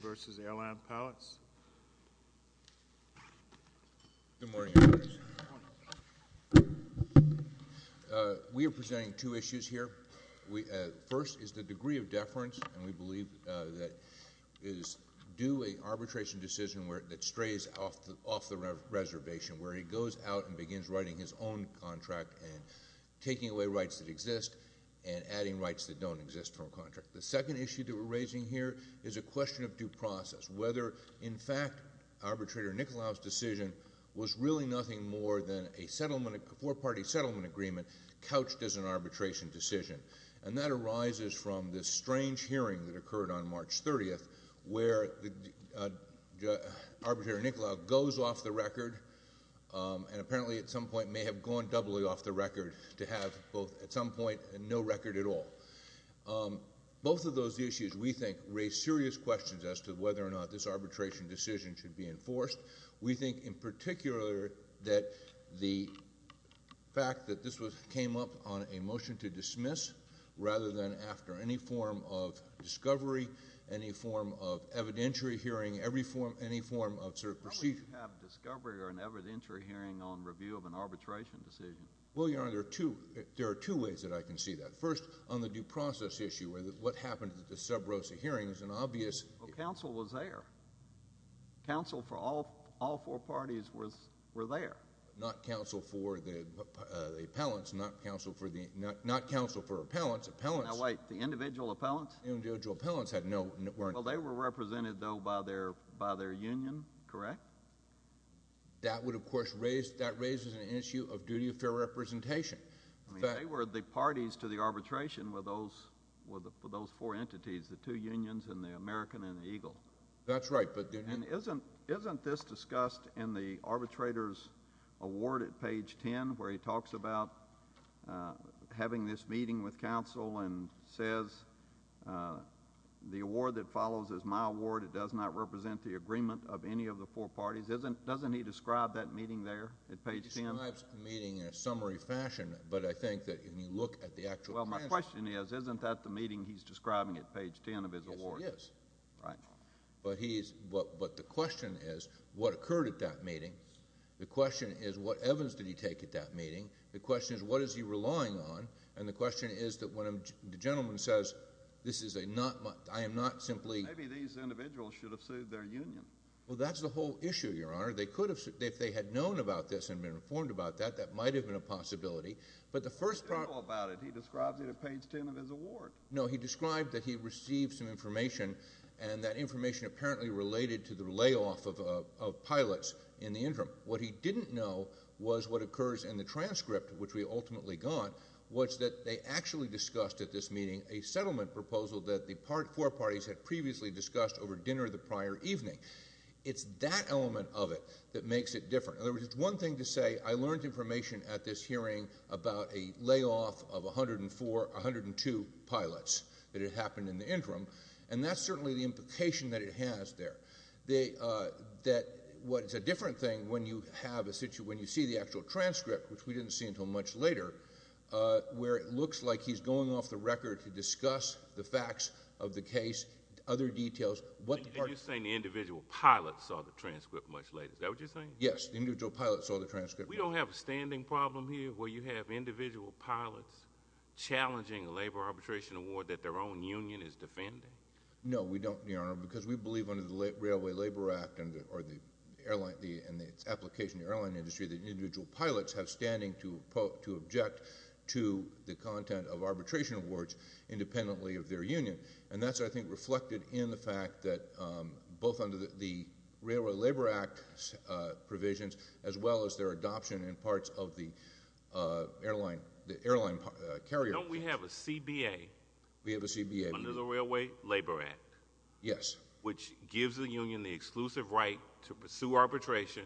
Good morning. We are presenting two issues here. First is the degree of deference, and we believe that is due an arbitration decision that strays off the reservation where he goes out and begins writing his own contract and taking away rights that exist and adding rights that don't exist from a contract. The second issue that we're raising here is a question of due process, whether, in fact, Arbitrator Nicolau's decision was really nothing more than a settlement, a four-party settlement agreement couched as an arbitration decision. And that arises from this strange hearing that occurred on March 30th where Arbitrator Nicolau goes off the record and apparently at some point may have gone doubly off the record to have both at some point no record at all. Both of those issues, we think, raise serious questions as to whether or not this arbitration decision should be enforced. We think, in particular, that the fact that this came up on a motion to dismiss rather than after any form of discovery, any form of evidentiary hearing, any form of sort of procedure. How would you have discovery or an evidentiary hearing on review of an arbitration decision? Well, Your Honor, there are two ways that I can see that. First, on the due process issue where what happened at the Sub Rosa hearing is an obvious — Well, counsel was there. Counsel for all four parties was — were there. Not counsel for the appellants. Not counsel for the — not counsel for appellants. Appellants — Now, wait. The individual appellants? The individual appellants had no — weren't — Well, they were represented, though, by their union, correct? That would, of course, raise — that raises an issue of duty of fair representation. In fact — Well, they were the parties to the arbitration with those — with those four entities, the two unions and the American and the Eagle. That's right, but — And isn't — isn't this discussed in the arbitrator's award at page 10 where he talks about having this meeting with counsel and says, the award that follows is my award. It does not represent the agreement of any of the four parties. Isn't — doesn't he describe that meeting there at page 10? Well, he describes the meeting in a summary fashion, but I think that when you look at the actual — Well, my question is, isn't that the meeting he's describing at page 10 of his award? Yes, it is. Right. But he's — but the question is, what occurred at that meeting? The question is, what evidence did he take at that meeting? The question is, what is he relying on? And the question is that when the gentleman says, this is a not — I am not simply — Maybe these individuals should have sued their union. Well, that's the whole issue, Your Honor. They could have — if they had known about this and been informed about that, that might have been a possibility. But the first — But he didn't know about it. He describes it at page 10 of his award. No, he described that he received some information, and that information apparently related to the layoff of pilots in the interim. What he didn't know was what occurs in the transcript, which we ultimately got, was that they actually discussed at this meeting a settlement proposal that the four parties had previously discussed over dinner the prior evening. It's that element of it that makes it different. In other words, it's one thing to say, I learned information at this hearing about a layoff of 104, 102 pilots that had happened in the interim, and that's certainly the implication that it has there. That what is a different thing when you have a — when you see the actual transcript, which we didn't see until much later, where it looks like he's going off the record to discuss the facts of the case, other details, what the parties — Is that what you're saying? Yes. The individual pilots saw the transcript. We don't have a standing problem here where you have individual pilots challenging a labor arbitration award that their own union is defending? No, we don't, Your Honor, because we believe under the Railway Labor Act or the airline — and its application to the airline industry that individual pilots have standing to object to the content of arbitration awards independently of their union. And that's, I think, reflected in the fact that both under the Railway Labor Act provisions, as well as their adoption in parts of the airline carrier — Don't we have a CBA? We have a CBA. Under the Railway Labor Act? Yes. Which gives the union the exclusive right to pursue arbitration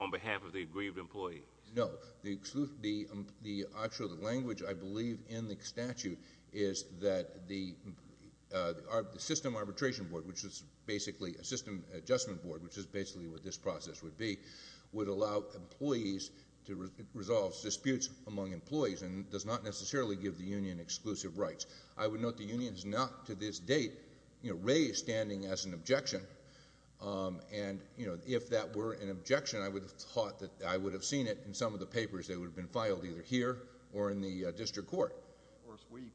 on behalf of the aggrieved employees? No. The actual language, I believe, in the statute is that the system arbitration board, which is basically a system adjustment board, which is basically what this process would be, would allow employees to resolve disputes among employees and does not necessarily give the union exclusive rights. I would note the union has not to this date raised standing as an objection. And if that were an objection, I would have thought that I would have seen it in some of the papers that would have been filed either here or in the district court. Of course, we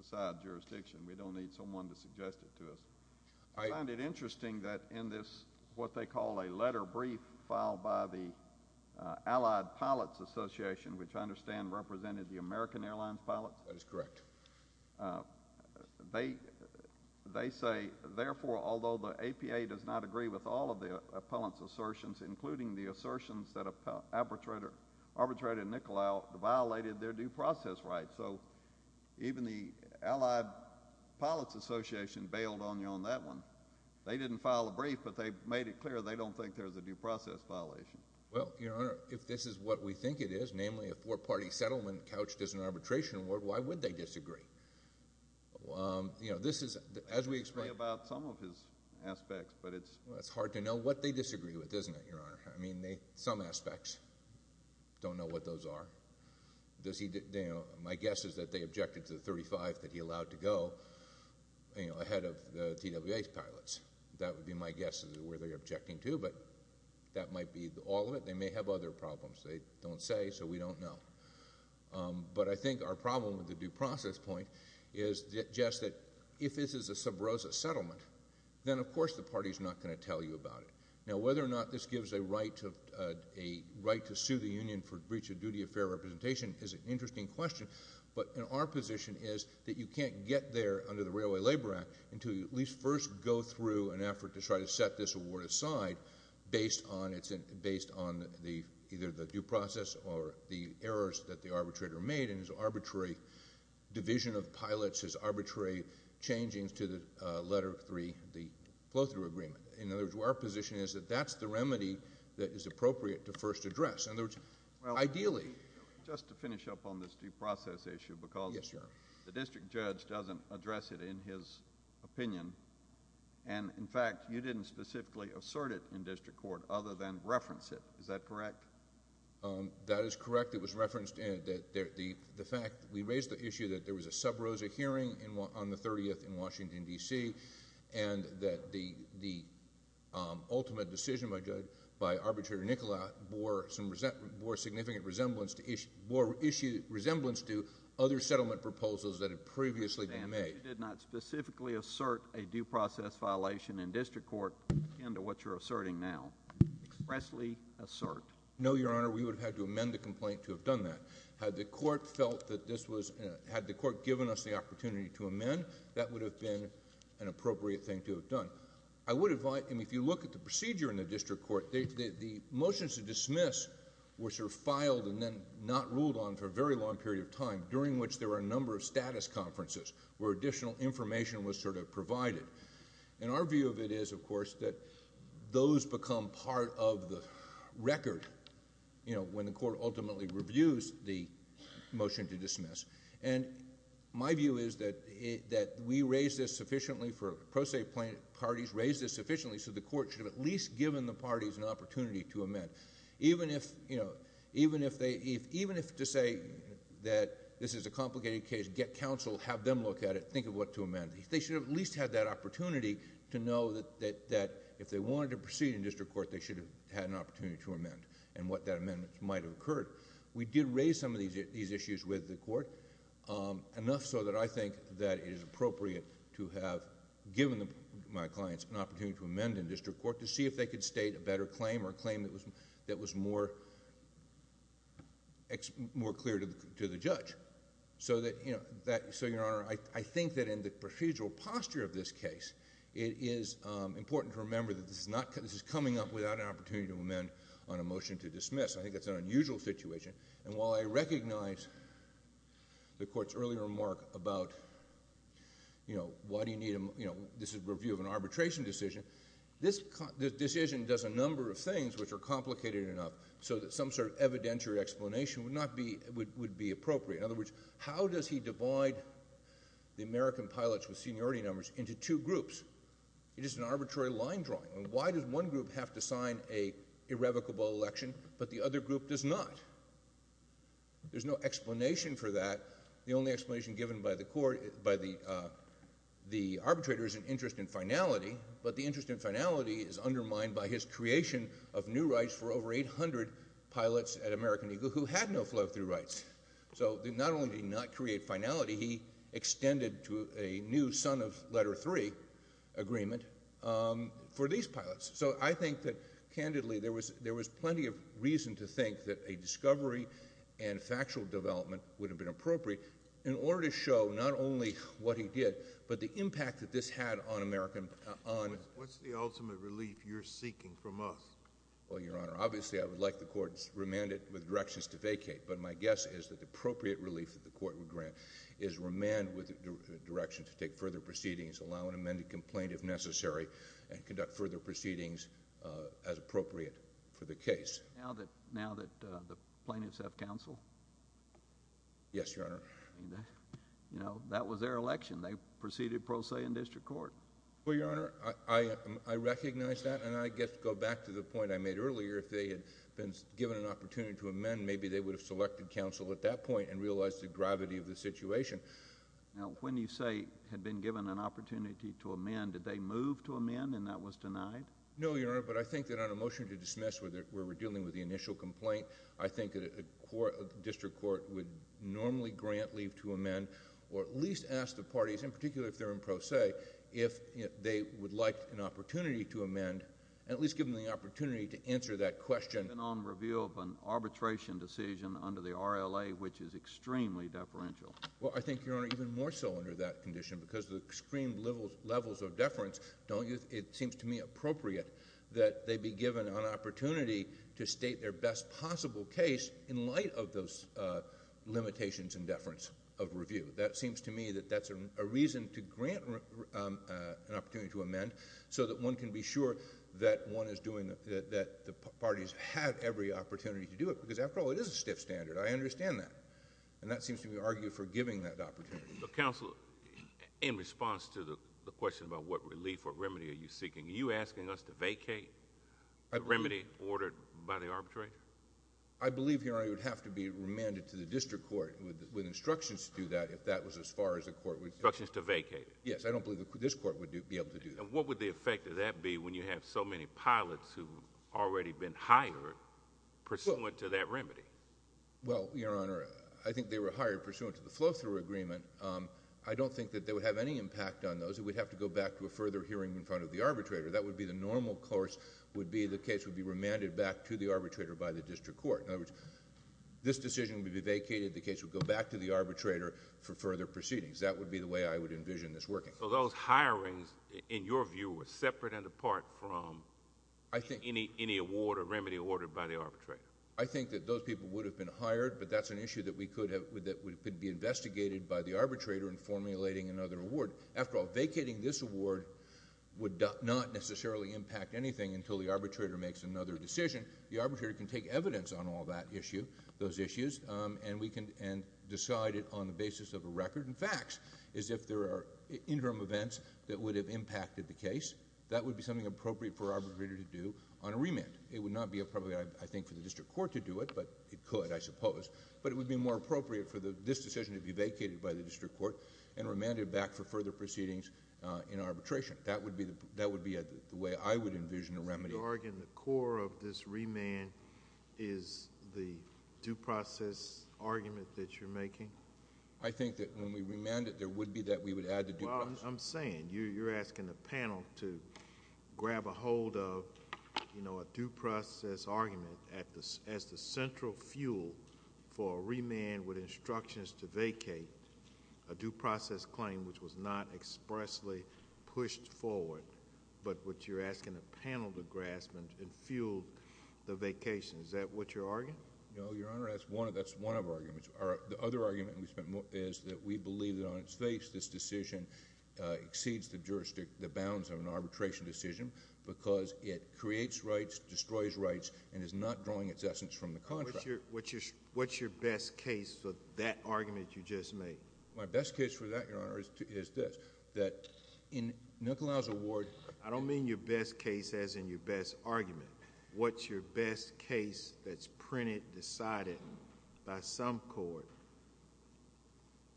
decide jurisdiction. We don't need someone to suggest it to us. I find it interesting that in this, what they call a letter brief filed by the Allied Pilots Association, which I understand represented the American Airlines Pilots — That is correct. They say, therefore, although the APA does not agree with all of the appellant's assertions, including the assertions that arbitrated Nicolau violated their due process rights. So even the Allied Pilots Association bailed on you on that one. They didn't file a brief, but they made it clear they don't think there's a due process violation. Well, Your Honor, if this is what we think it is, namely a four-party settlement couched as an arbitration, why would they disagree? You know, this is, as we expect — I agree about some of his aspects, but it's — No, Your Honor. I mean, some aspects. Don't know what those are. Does he — my guess is that they objected to the 35 that he allowed to go, you know, ahead of the TWA's pilots. That would be my guess as to where they're objecting to, but that might be all of it. They may have other problems. They don't say, so we don't know. But I think our problem with the due process point is just that if this is a sub rosa settlement, then of course the party's not going to tell you about it. Now, whether or not this gives a right to sue the union for breach of duty of fair representation is an interesting question, but our position is that you can't get there under the Railway Labor Act until you at least first go through an effort to try to set this award aside based on either the due process or the errors that the arbitrator made in his arbitrary division of pilots, his arbitrary changing to the letter three, the flow-through agreement. In other words, our position is that that's the remedy that is appropriate to first address. In other words, ideally... Well, just to finish up on this due process issue because the district judge doesn't address it in his opinion, and in fact, you didn't specifically assert it in district court other than reference it. Is that correct? That is correct. It was referenced in the fact that we raised the issue that there was a decision by Arbitrator Nicolau that bore significant resemblance to other settlement proposals that had previously been made. Your Honor, you did not specifically assert a due process violation in district court akin to what you're asserting now. Expressly assert. No, Your Honor. We would have had to amend the complaint to have done that. Had the court felt that this was... had the court given us the opportunity to amend, that would have been an appropriate thing to have done. I would advise... I mean, if you look at the procedure in the district court, the motions to dismiss were sort of filed and then not ruled on for a very long period of time, during which there were a number of status conferences where additional information was sort of provided. Our view of it is, of course, that those become part of the record when the court ultimately reviews the motion to dismiss. My view is that we raised this sufficiently for... pro se parties raised this sufficiently so the court should have at least given the parties an opportunity to amend. Even if to say that this is a complicated case, get counsel, have them look at it, think of what to amend. They should have at least had that opportunity to know that if they wanted to proceed in district court, they should have had an opportunity to amend and what that amendment might have done in district court, enough so that I think that it is appropriate to have given my clients an opportunity to amend in district court to see if they could state a better claim or claim that was more clear to the judge. So, Your Honor, I think that in the procedural posture of this case, it is important to remember that this is coming up without an opportunity to amend on a motion to dismiss. I think that's an unusual situation and while I recognize the court's earlier remark about, you know, why do you need... you know, this is a review of an arbitration decision, this decision does a number of things which are complicated enough so that some sort of evidentiary explanation would not be... would be appropriate. In other words, how does he divide the American pilots with seniority numbers into two groups? It is an arbitrary line drawing. Why does one group have to sign an irrevocable election, but the other group does not? There's no explanation for that. The only explanation given by the court... by the arbitrator is an interest in finality, but the interest in finality is undermined by his creation of new rights for over 800 pilots at American Eagle who had no flow-through rights. So, not only did he not create finality, he extended to a new son-of-letter-three agreement for these pilots. So, I think that, candidly, there was... there was plenty of reason to think that a discovery and factual development would have been appropriate in order to show not only what he did, but the impact that this had on American... on... What's the ultimate relief you're seeking from us? Well, Your Honor, obviously, I would like the court's remanded with directions to vacate, but my guess is that the appropriate relief that the court would grant is remand with a direction to take further proceedings, allow an amended complaint if necessary, and conduct further proceedings as appropriate for the case. Now that... now that the plaintiffs have counsel? Yes, Your Honor. You know, that was their election. They proceeded pro se in district court. Well, Your Honor, I... I recognize that, and I guess go back to the they would have selected counsel at that point and realized the gravity of the situation. Now, when you say had been given an opportunity to amend, did they move to amend and that was denied? No, Your Honor, but I think that on a motion to dismiss where we're dealing with the initial complaint, I think that a district court would normally grant leave to amend, or at least ask the parties, in particular if they're in pro se, if they would like an opportunity to amend, and at least give them the opportunity to answer that question...... on review of an arbitration decision under the RLA, which is extremely deferential? Well, I think, Your Honor, even more so under that condition because the extreme levels of deference don't... it seems to me appropriate that they be given an opportunity to state their best possible case in light of those limitations and deference of review. That seems to me that that's a reason to grant an opportunity to amend so that one can be sure that one is doing... that the parties have every opportunity to do it because, after all, it is a stiff standard. I understand that, and that seems to be argued for giving that opportunity. Counsel, in response to the question about what relief or remedy are you seeking, are you asking us to vacate the remedy ordered by the arbitrator? I believe, Your Honor, it would have to be remanded to the district court with instructions to do that if that was as far as the court would... Instructions to vacate it? Yes. I don't believe this court would be able to do that. What would the effect of that be when you have so many pilots who have already been hired pursuant to that remedy? Well, Your Honor, I think they were hired pursuant to the flow-through agreement. I don't think that they would have any impact on those. It would have to go back to a further hearing in front of the arbitrator. That would be the normal course would be the case would be remanded back to the arbitrator by the district court. In other words, this decision would be vacated. The case would go back to the arbitrator for further proceedings. That would be the way I would envision this working. Those hirings, in your view, were separate and apart from any award or remedy ordered by the arbitrator? I think that those people would have been hired, but that's an issue that could be investigated by the arbitrator in formulating another award. After all, vacating this award would not necessarily impact anything until the arbitrator makes another decision. The arbitrator can take evidence on all those issues and decide it on the basis of a record and facts. If there are interim events that would have impacted the case, that would be something appropriate for arbitrator to do on a remand. It would not be appropriate, I think, for the district court to do it, but it could, I suppose, but it would be more appropriate for this decision to be vacated by the district court and remanded back for further proceedings in arbitration. That would be the way I would envision a remedy. The core of this remand is the due process argument that you're making? I think that when we remand it, there would be that we would add the due process. I'm saying, you're asking the panel to grab a hold of a due process argument as the central fuel for a remand with instructions to vacate a due process claim, which was not expressly pushed forward, but which you're asking the panel to grasp and fuel the vacation. Is that what you're arguing? No, Your Honor, that's one of our arguments. The other argument we spent more is that we believe that on its face, this decision exceeds the jurisdiction, the bounds of an arbitration decision because it creates rights, destroys rights, and is not drawing its essence from the contract. What's your best case for that argument you just made? My best case for that, Your Honor, is this, that in Nicolau's award... I don't mean your best case as in your best argument. What's your best case that's printed, decided by some court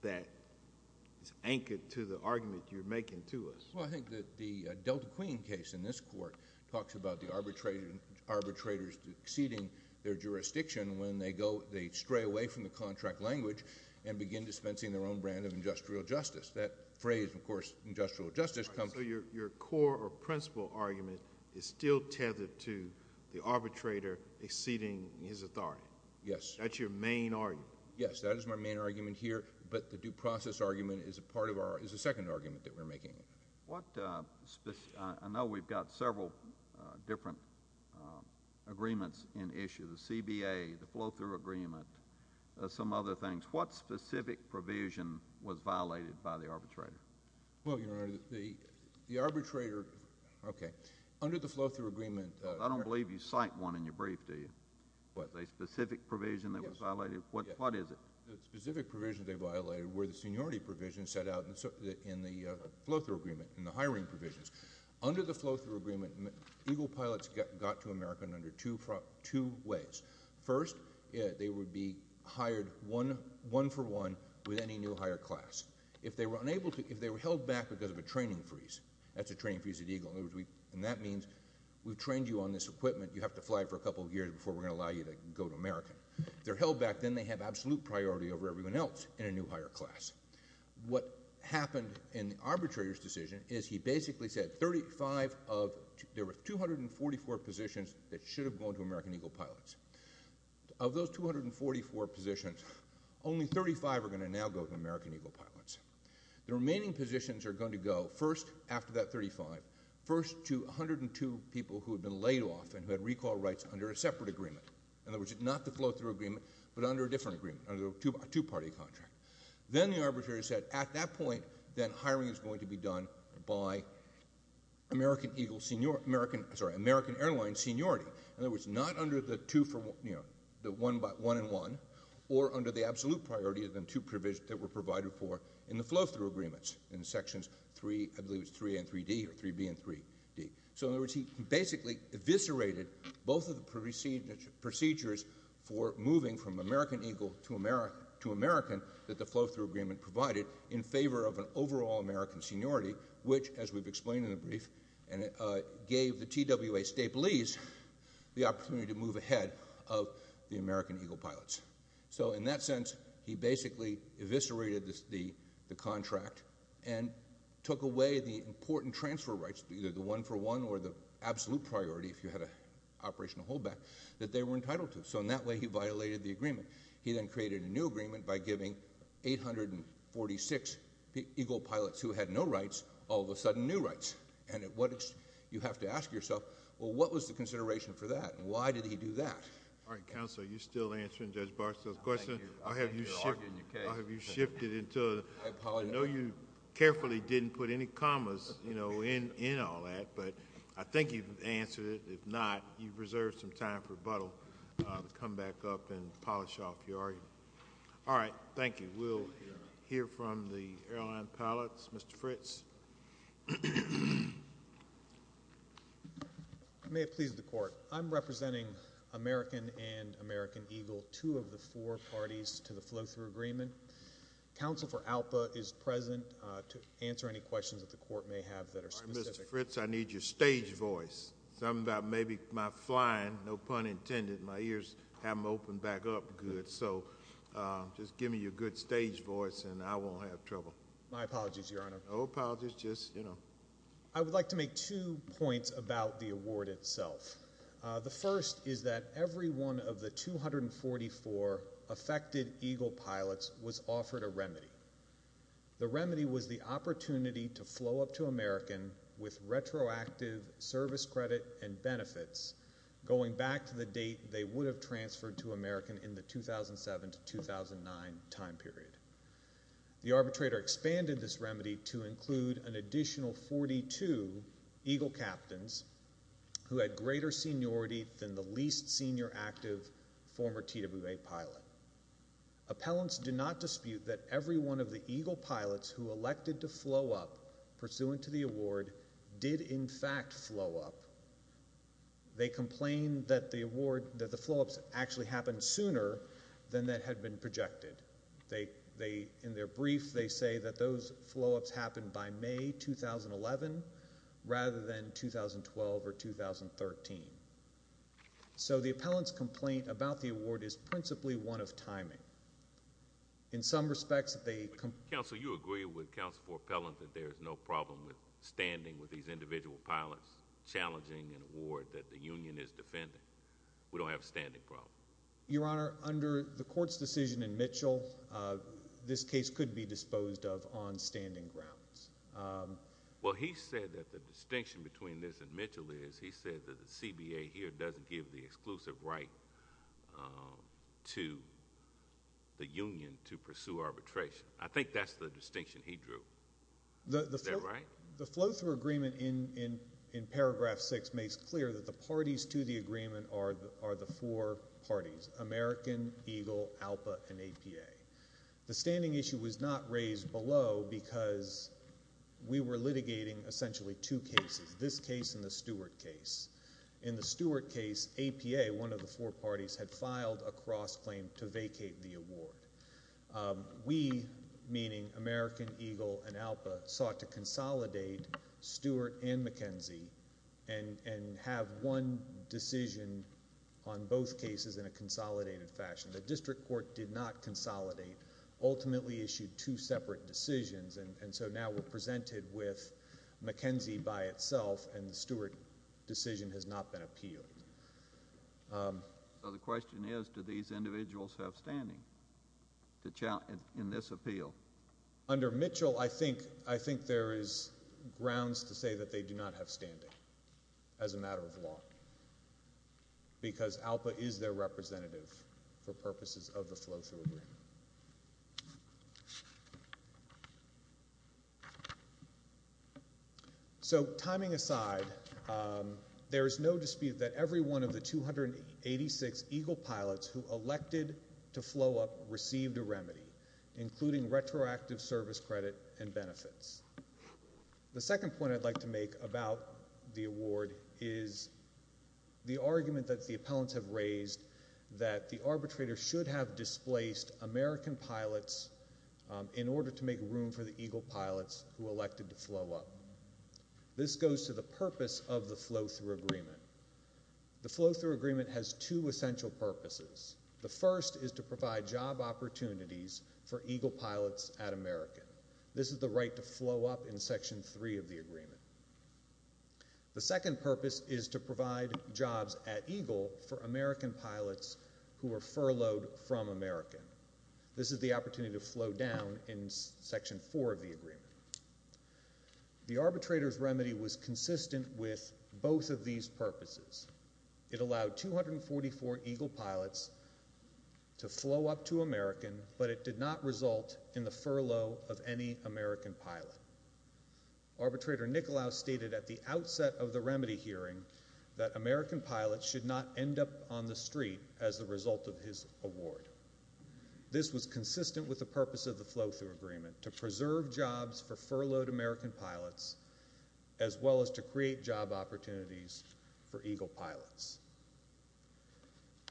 that is anchored to the argument you're making to us? Well, I think that the Delta Queen case in this court talks about the arbitrators exceeding their jurisdiction when they stray away from the justice. That phrase, of course, industrial justice... So your core or principal argument is still tethered to the arbitrator exceeding his authority? Yes. That's your main argument? Yes, that is my main argument here, but the due process argument is a part of our... is the second argument that we're making. I know we've got several different agreements in issue, the CBA, the flow-through agreement, some other things. What specific provision was violated by the arbitrator? Well, Your Honor, the arbitrator... okay. Under the flow-through agreement... I don't believe you cite one in your brief, do you? What, a specific provision that was violated? Yes. What is it? The specific provision they violated were the seniority provisions set out in the flow-through agreement, in the hiring provisions. Under the flow-through agreement, Eagle Pilots got to America in under two ways. First, they would be hired one-for-one with any new hire class. If they were unable to... if they were held back because of a training freeze, that's a training freeze at Eagle, and that means we've trained you on this equipment, you have to fly for a couple of years before we're going to allow you to go to America. If they're held back, then they have absolute priority over everyone else in a new hire class. What happened in the arbitrator's decision is he basically said 35 of... there were 244 positions that should have gone to American Eagle Pilots. Of those 244 positions, only 35 are going to now go to American Eagle Pilots. The remaining positions are going to go, first, after that 35, first to 102 people who had been laid off and who had recall rights under a separate agreement. In other words, not the flow-through agreement, but under a different agreement, under a two-party contract. Then the arbitrator said, at that point, then hiring is going to be done by American Eagle... sorry, by American Airlines seniority. In other words, not under the two for... the one and one, or under the absolute priority of the two provisions that were provided for in the flow-through agreements in Sections 3, I believe it's 3A and 3D, or 3B and 3D. In other words, he basically eviscerated both of the procedures for moving from American Eagle to American that the flow-through agreement provided in favor of an overall American seniority, which, as we've explained in the brief, gave the TWA state police the opportunity to move ahead of the American Eagle Pilots. In that sense, he basically eviscerated the contract and took away the important transfer rights, either the one for one or the absolute priority, if you had an operational holdback, that they were entitled to. In that way, he violated the agreement. He then created a new agreement by giving 846 Eagle Pilots who had no rights, all of them, and at what... you have to ask yourself, well, what was the consideration for that? Why did he do that? All right, Counsel, are you still answering Judge Barstow's question? I'll continue to argue in your case. Or have you shifted into... I apologize. I know you carefully didn't put any commas, you know, in all that, but I think you've answered it. If not, you've reserved some time for Buttle to come back up and polish off your argument. Thank you, Your Honor. I'm representing American and American Eagle, two of the four parties to the flow-through agreement. Counsel for Alpa is present to answer any questions that the Court may have that are specific. All right, Mr. Fritz, I need your stage voice, something about maybe my flying, no pun intended, my ears haven't opened back up good, so just give me your good stage voice and I won't have trouble. No apologies, just, you know. I would like to make two points about the award itself. The first is that every one of the 244 affected Eagle pilots was offered a remedy. The remedy was the opportunity to flow up to American with retroactive service credit and benefits going back to the date they would have transferred to American in the 2007 to 2009 time period. The arbitrator expanded this remedy to include an additional 42 Eagle captains who had greater seniority than the least senior active former TWA pilot. Appellants do not dispute that every one of the Eagle pilots who elected to flow up pursuant to the award did in fact flow up. They complain that the award, that the flow-ups actually happened sooner than that had been projected. They, in their brief, they say that those flow-ups happened by May 2011 rather than 2012 or 2013. So the appellant's complaint about the award is principally one of timing. In some respects, they... Counsel, you agree with Counsel for Appellant that there is no problem with standing with these individual pilots challenging an award that the union is defending. We don't have a standing problem. Your Honor, under the court's decision in Mitchell, this case could be disposed of on standing grounds. Well, he said that the distinction between this and Mitchell is he said that the CBA here doesn't give the exclusive right to the union to pursue arbitration. I think that's the distinction he drew. Is that right? The flow-through agreement in paragraph 6 makes clear that the parties to the agreement are the four parties, American, EGLE, ALPA, and APA. The standing issue was not raised below because we were litigating essentially two cases, this case and the Stewart case. In the Stewart case, APA, one of the four parties, had filed a cross-claim to vacate the award. We, meaning American, EGLE, and ALPA, sought to consolidate Stewart and McKenzie and have one decision on both cases in a consolidated fashion. The district court did not consolidate, ultimately issued two separate decisions, and so now we're presented with McKenzie by itself, and the Stewart decision has not been appealed. So the question is, do these individuals have standing in this appeal? Under Mitchell, I think there is grounds to say that they do not have standing as a matter of law because ALPA is their representative for purposes of the flow-through agreement. So timing aside, there is no dispute that every one of the 286 EGLE pilots who elected to flow up received a remedy, including retroactive service credit and benefits. The second point I'd like to make about the award is the argument that the appellants have raised that the arbitrator should have displaced American pilots in order to make room for the EGLE pilots who elected to flow up. This goes to the purpose of the flow-through agreement. The flow-through agreement has two essential purposes. The first is to provide job opportunities for EGLE pilots at American. This is the right to flow up in Section 3 of the agreement. The second purpose is to provide jobs at EGLE for American pilots who are furloughed from American. This is the opportunity to flow down in Section 4 of the agreement for these purposes. It allowed 244 EGLE pilots to flow up to American, but it did not result in the furlough of any American pilot. Arbitrator Nicolaus stated at the outset of the remedy hearing that American pilots should not end up on the street as a result of his award. This was consistent with the purpose of the flow-through agreement, to make room for EGLE pilots.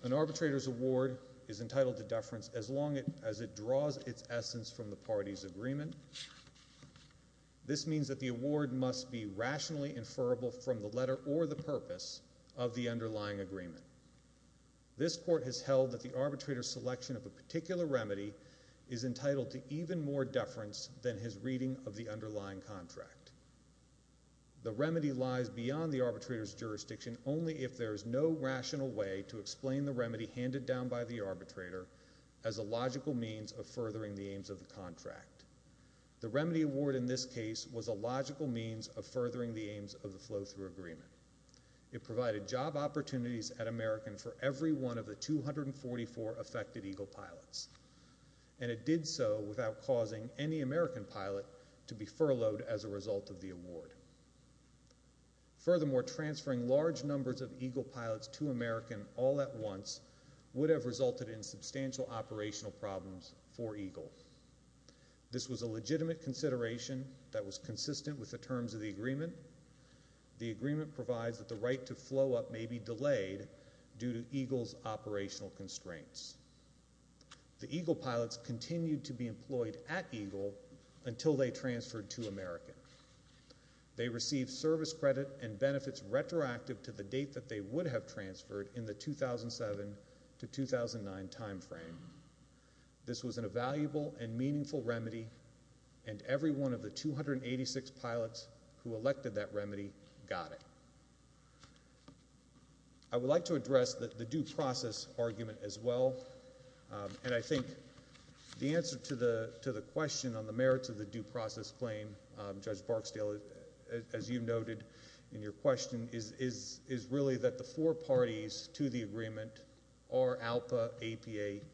An arbitrator's award is entitled to deference as long as it draws its essence from the party's agreement. This means that the award must be rationally inferrable from the letter or the purpose of the underlying agreement. This court has held that the arbitrator's selection of a particular remedy is entitled to even more deference than his reading of the underlying contract. The remedy lies beyond the arbitrator's jurisdiction only if there is no rational way to explain the remedy handed down by the arbitrator as a logical means of furthering the aims of the contract. The remedy award in this case was a logical means of furthering the aims of the flow-through agreement. It provided job opportunities at American for every one of the 244 affected EGLE pilots, and it did so without causing any American pilot to be furloughed as a result of the agreement. Delivering large numbers of EGLE pilots to American all at once would have resulted in substantial operational problems for EGLE. This was a legitimate consideration that was consistent with the terms of the agreement. The agreement provides that the right to flow up may be delayed due to EGLE's operational constraints. The EGLE pilots continued to be employed at EGLE until they transferred to American. They received service credit and benefits retroactive to the date that they would have transferred in the 2007 to 2009 time frame. This was an invaluable and meaningful remedy, and every one of the 286 pilots who elected that remedy got it. I would like to address the due process argument as well, and I think the answer to the question on the merits of the due process claim, Judge Barksdale, as you noted in your question, is really that the four parties to the agreement are ALPA, APA,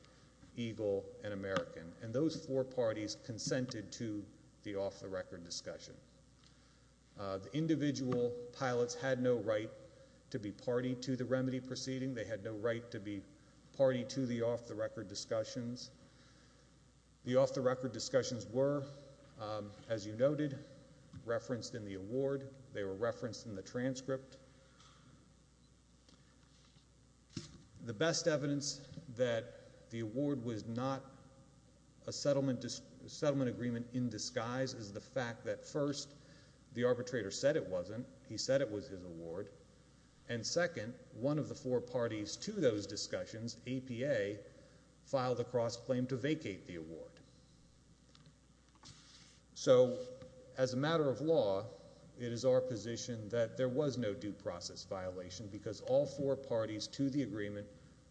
EGLE, and American, and those four parties consented to the off-the-record discussion. The individual pilots had no right to be party to the remedy proceeding. They had no right to be party to the off-the-record discussions. The off-the-record discussions were, as you noted, referenced in the award. They were referenced in the transcript. The best evidence that the award was not a settlement agreement in disguise is the fact that first, the arbitrator said it wasn't. He said it was his award, and second, one of the four parties to those discussions, APA, filed a cross-claim to vacate the award. So, as a matter of law, it is our position that there was no due process violation because all four parties to the agreement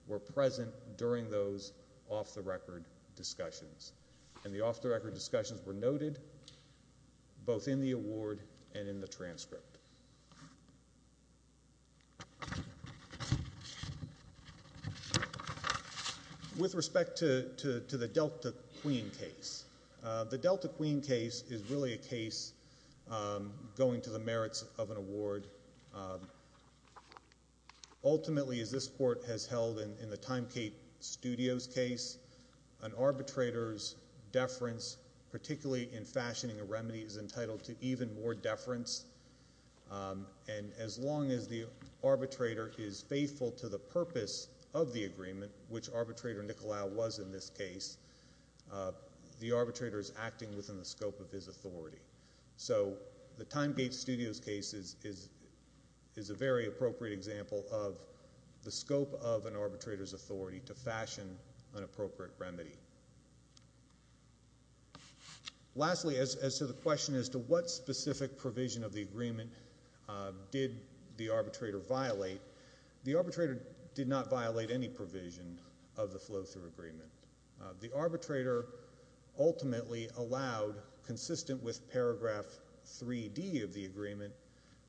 were present during those off-the-record discussions, and the off-the-record discussions were noted both in the award and in the transcript. With respect to the Delta Queen case, the Delta Queen case is really a case going to the merits of an award. Ultimately, as this Court has held in the TimeKate Studios case, an arbitrator's deference, particularly in fashioning a remedy, is entitled to even more deference. And as long as the arbitrator is faithful to the purpose of the agreement, which arbitrator Nicolau was in this case, the arbitrator is acting within the scope of his authority. So, the TimeKate Studios case is a very appropriate example of the scope of an arbitrator's authority to fashion an appropriate remedy. Lastly, as to the question as to what specific provision of the agreement did the arbitrator violate, the arbitrator did not violate any provision of the flow-through agreement. The arbitrator ultimately allowed, consistent with paragraph 3D of the agreement,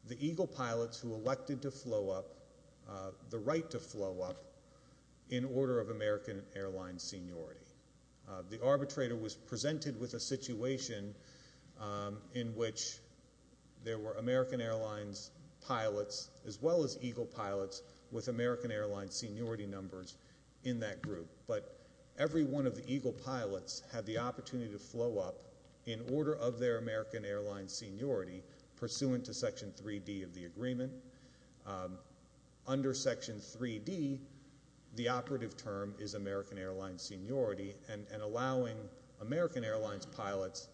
the Eagle pilots who elected to flow up, the right to flow up, in order of American Airlines seniority. The arbitrator was presented with a situation in which there were American Airlines pilots, as well as Eagle pilots, with American Airlines seniority numbers in that group. But every one of the Eagle pilots had the opportunity to flow up in order of their American Airlines seniority, pursuant to section 3D of the agreement. Under section 3D, the operative term is American Airlines seniority, and allowing American Airlines pilots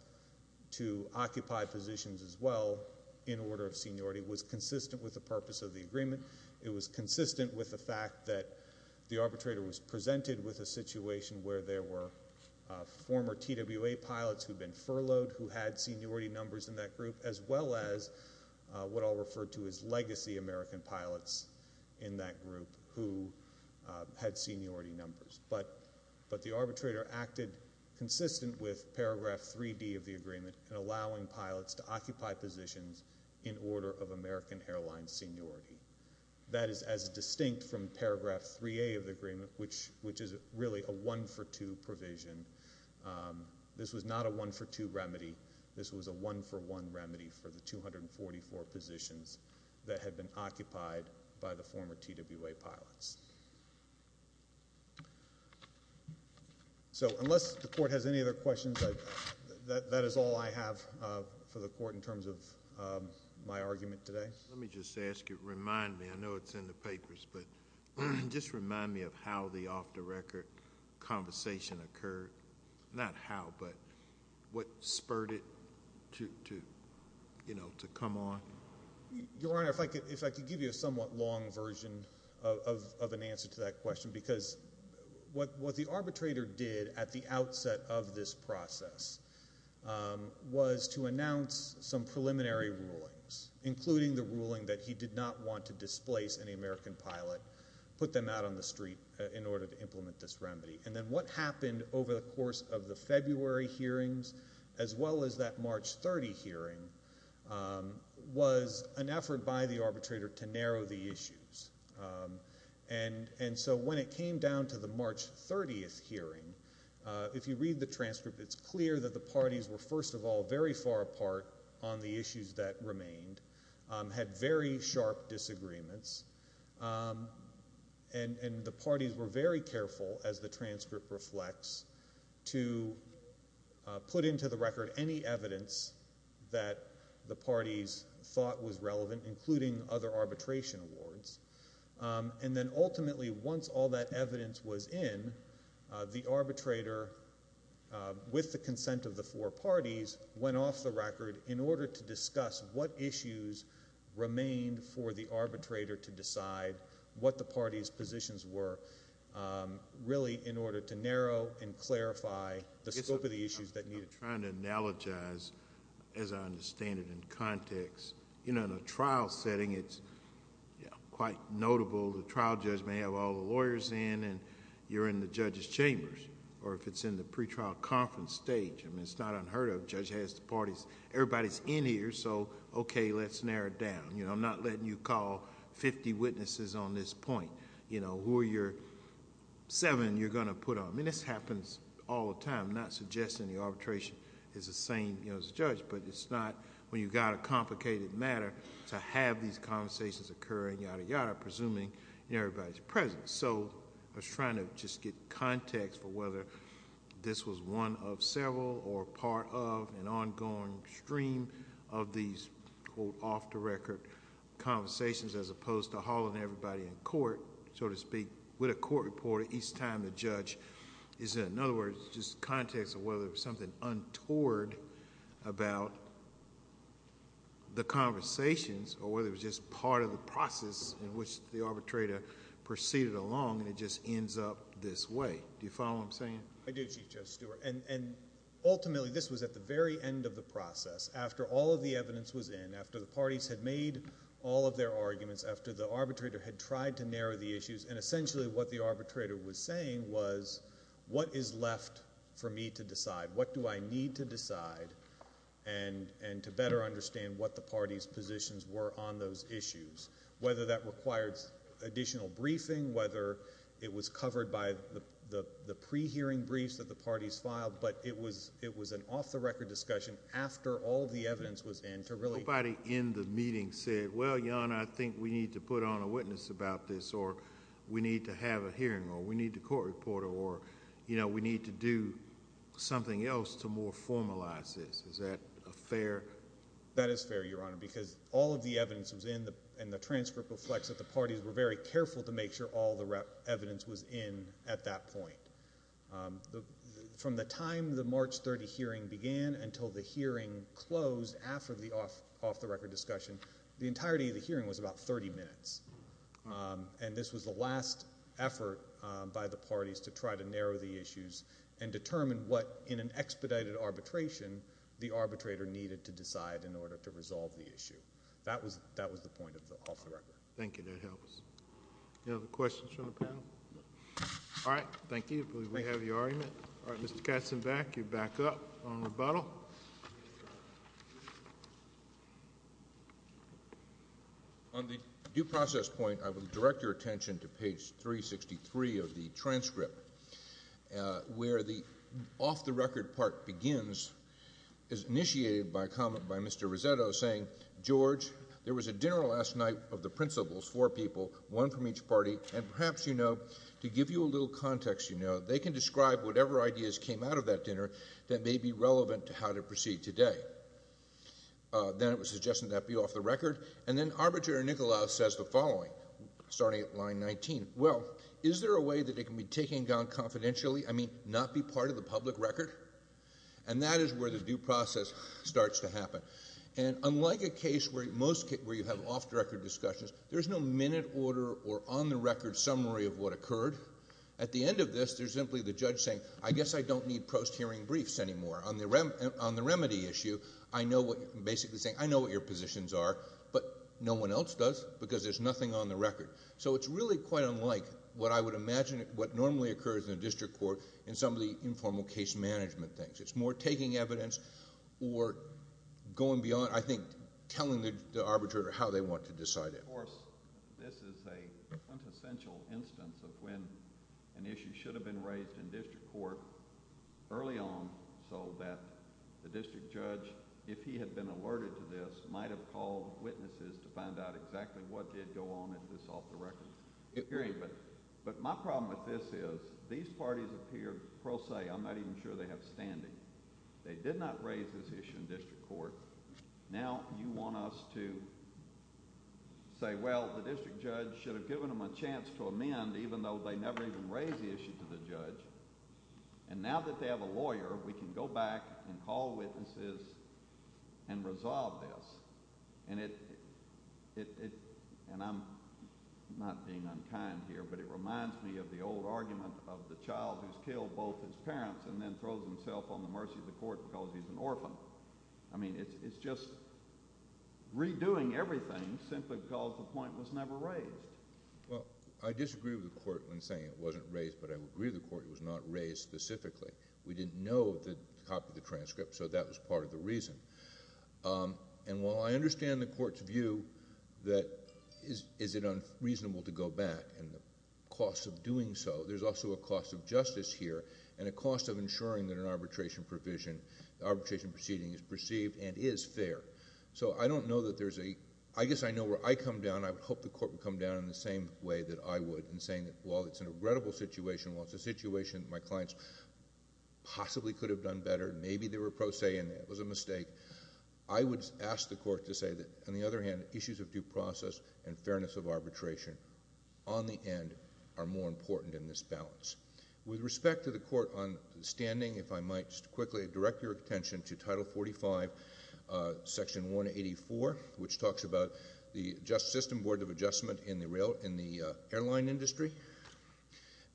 to occupy positions as well in order of seniority was consistent with the purpose of the agreement. It was consistent with the fact that the arbitrator was presented with a situation where there were former TWA pilots who had been furloughed, who had seniority numbers in that group, as well as what I'll refer to as legacy American pilots in that group who had seniority numbers. But the arbitrator acted consistent with paragraph 3D of the agreement in allowing pilots to occupy positions in order of American Airlines seniority. That is as distinct from paragraph 3A of the agreement, which is really a one-for-two provision. This was not a one-for-two remedy. This was a one-for-one remedy for the 244 positions that had been occupied by the former TWA pilots. So unless the court has any other questions, that is all I have for the court in terms of my argument today. Let me just ask you, remind me, I know it's in the papers, but just remind me of how the off-the-record conversation occurred. Not how, but what spurred it to come on. Your Honor, if I could give you a somewhat long version of an answer to that question, because what the arbitrator did at the outset of this process was to announce some preliminary rulings, including the ruling that he did not want to displace any American pilot, put them out on the street in order to implement this remedy. And then what happened over the course of the February hearings, as well as that March 30 hearing, was an effort by the arbitrator to narrow the issues. And so when it came down to the March 30th hearing, if you read the transcript, it's clear that the parties were, first of all, very far apart on the issues that remained, had very sharp disagreements, and the parties were very careful, as the transcript reflects, to put into the record any evidence that the parties thought was relevant, including other arbitration awards. And then ultimately, once all that evidence was in, the arbitrator, with the consent of the four parties, went off the record in order to discuss what issues remained for the arbitrator to decide what the party's positions were, really in order to narrow and clarify the scope of the issues that... I'm trying to analogize, as I understand it in context. In a trial setting, it's quite notable, the trial judge may have all the lawyers in, you're in the judge's chambers, or if it's in the pretrial conference stage, it's not unheard of, the judge has the parties, everybody's in here, so, okay, let's narrow it down. I'm not letting you call 50 witnesses on this point. Who are your seven you're going to put on? This happens all the time. I'm not suggesting the arbitration is the same as the judge, but it's not when you've got a complicated matter, to have these conversations occur, yada yada, presuming everybody's present. I was trying to just get context for whether this was one of several or part of an ongoing stream of these, quote, off-the-record conversations, as opposed to hauling everybody in court, so to speak, with a court reporter each time the judge is in. In other words, just context of whether there was something untoward about the conversations, or whether it was just part of the process in which the arbitrator proceeded along, and it just ends up this way. Do you follow what I'm saying? I do, Chief Judge Stewart, and ultimately this was at the very end of the process, after all of the evidence was in, after the parties had made all of their arguments, after the arbitrator had tried to narrow the issues, and essentially what the arbitrator was saying was, what is left for me to decide? What do I need to decide? And to better understand what the party's positions were on those issues, whether that required additional briefing, whether it was covered by the pre-hearing briefs that the parties filed, but it was an off-the-record discussion after all the evidence was in to really... Nobody in the meeting said, well, Your Honor, I think we need to put on a witness about this, or we need to have a hearing, or we need the court reporter, or, you know, we need to do something else to more formalize this. Is that fair? That is fair, Your Honor, because all of the evidence was in and the transcript reflects that the parties were very careful to make sure all the evidence was in at that point. From the time the March 30 hearing began until the hearing closed after the off-the-record discussion, the entirety of the hearing was about 30 minutes. And this was the last effort by the parties to try to narrow the issues and determine what, in an expedited arbitration, the arbitrator needed to decide in order to resolve the issue. That was the point of the off-the-record. Thank you. That helps. Any other questions from the panel? All right. Thank you. We have your argument. Mr. Katzenbach, you're back up on rebuttal. On the due process point, I would direct your attention to page 363 of the transcript where the off-the-record part begins is initiated by a comment by Mr. Rossetto saying, George, there was a dinner last night of the principals, four people, one from each party, and perhaps, you know, to give you a little context, they can describe whatever ideas came out of that dinner that may be relevant to how to proceed today. Then it was suggested that be off-the-record and then Arbitrator Nikolaos says the following, starting at line 19. Well, is there a way that it can be taken down confidentially? I mean, not be part of the public record? And that is where the due process starts to happen. And unlike a case where you have off-the-record discussions, there's no minute order or on-the-record summary of what occurred. At the end of this, there's simply the judge saying, I guess I don't need post-hearing briefs anymore. On the remedy issue, I know what you're basically saying. I know what your positions are, but no one else does because there's nothing on the record. So it's really quite unlike what I would imagine what normally occurs in a district court in some of the informal case management things. It's more taking evidence or going beyond, I think, telling the Arbitrator how they want to decide it. Of course, this is a quintessential instance of when an issue should have been raised in district court early on so that the district judge, if he had been alerted to this, might have called witnesses to find out exactly what did go on at this off-the-record hearing. But my problem with this is, these parties appear pro se. I'm not even sure they have standing. They did not raise this issue in district court. Now you want us to say, well, the district judge should have given them a chance to amend even though they never even raised the issue to the judge. And now that they have a lawyer, we can go back and call witnesses and resolve this. And it, and I'm not being unkind here, but it reminds me of the old argument of the child who's killed both his parents and then throws himself on the mercy of the court because he's an orphan. I mean, it's just redoing everything simply because the point was never raised. I disagree with the court when saying it wasn't raised but I agree with the court it was not raised specifically. We didn't know the copy of the transcript so that was part of the reason. And while I understand the court's view that is it unreasonable to go back and the cost of doing so, there's also a cost of justice here and a cost of ensuring that an arbitration provision, arbitration proceeding is perceived and is fair. So I don't know that there's a, I guess I know where I come down, I would hope the court would come down in the same way that I would in saying that while it's an regrettable situation, while it's a situation that my clients possibly could have done better, maybe they were prosaic and it was a mistake, I would ask the court to say that, on the other hand, issues of due process and fairness of arbitration on the end are more important in this balance. With respect to the court on standing, if I might just quickly direct your attention to Title 45 Section 184 which talks about the Board of Adjustment in the airline industry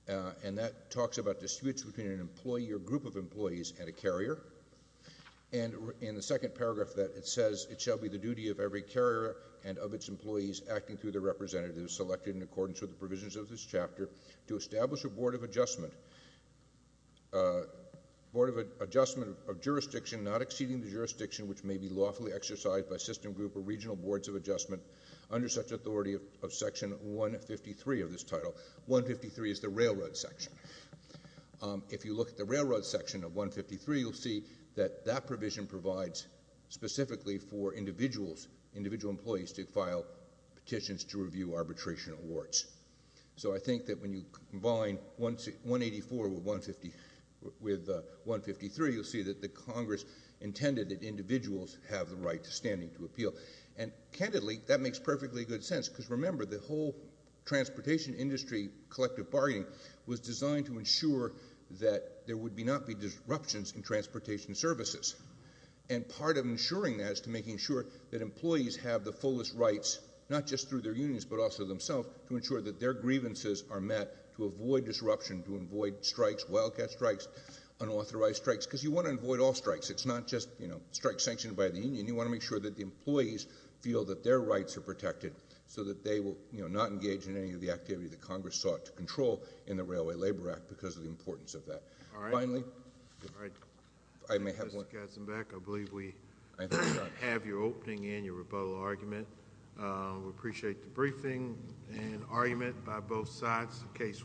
and that talks about the switch between an employee or group of employees and a carrier and in the second paragraph that it says it shall be the duty of every carrier and of its employees acting through the representatives selected in accordance with the provisions of this chapter to establish a Board of Adjustment Board of Adjustment of jurisdiction not exceeding the jurisdiction which may be lawfully exercised by system group or regional boards of adjustment under such authority of Section 153 of this title. 153 is the railroad section. If you look at the railroad section of 153, you'll see that that provision provides specifically for individuals, individual employees to file petitions to review arbitration awards. So I think that when you combine 184 with 153, you'll see that the Congress intended that individuals have the right to standing to appeal and candidly that makes perfectly good sense because remember the whole transportation industry collective bargaining was designed to ensure that there would not be disruptions in transportation services and part of ensuring that is to making sure that employees have the fullest rights not just through their unions but also themselves to ensure that their grievances are met to avoid disruption, to avoid strikes, wildcat strikes, unauthorized strikes because you want to avoid all strikes it's not just strikes sanctioned by the union you want to make sure that the employees feel that their rights are protected so that they will not engage in any of the activity that Congress sought to control in the Railway Labor Act because of the importance of that. Finally, I may have one. I believe we have your opening and your rebuttal argument we appreciate the briefing and argument by both sides in this case.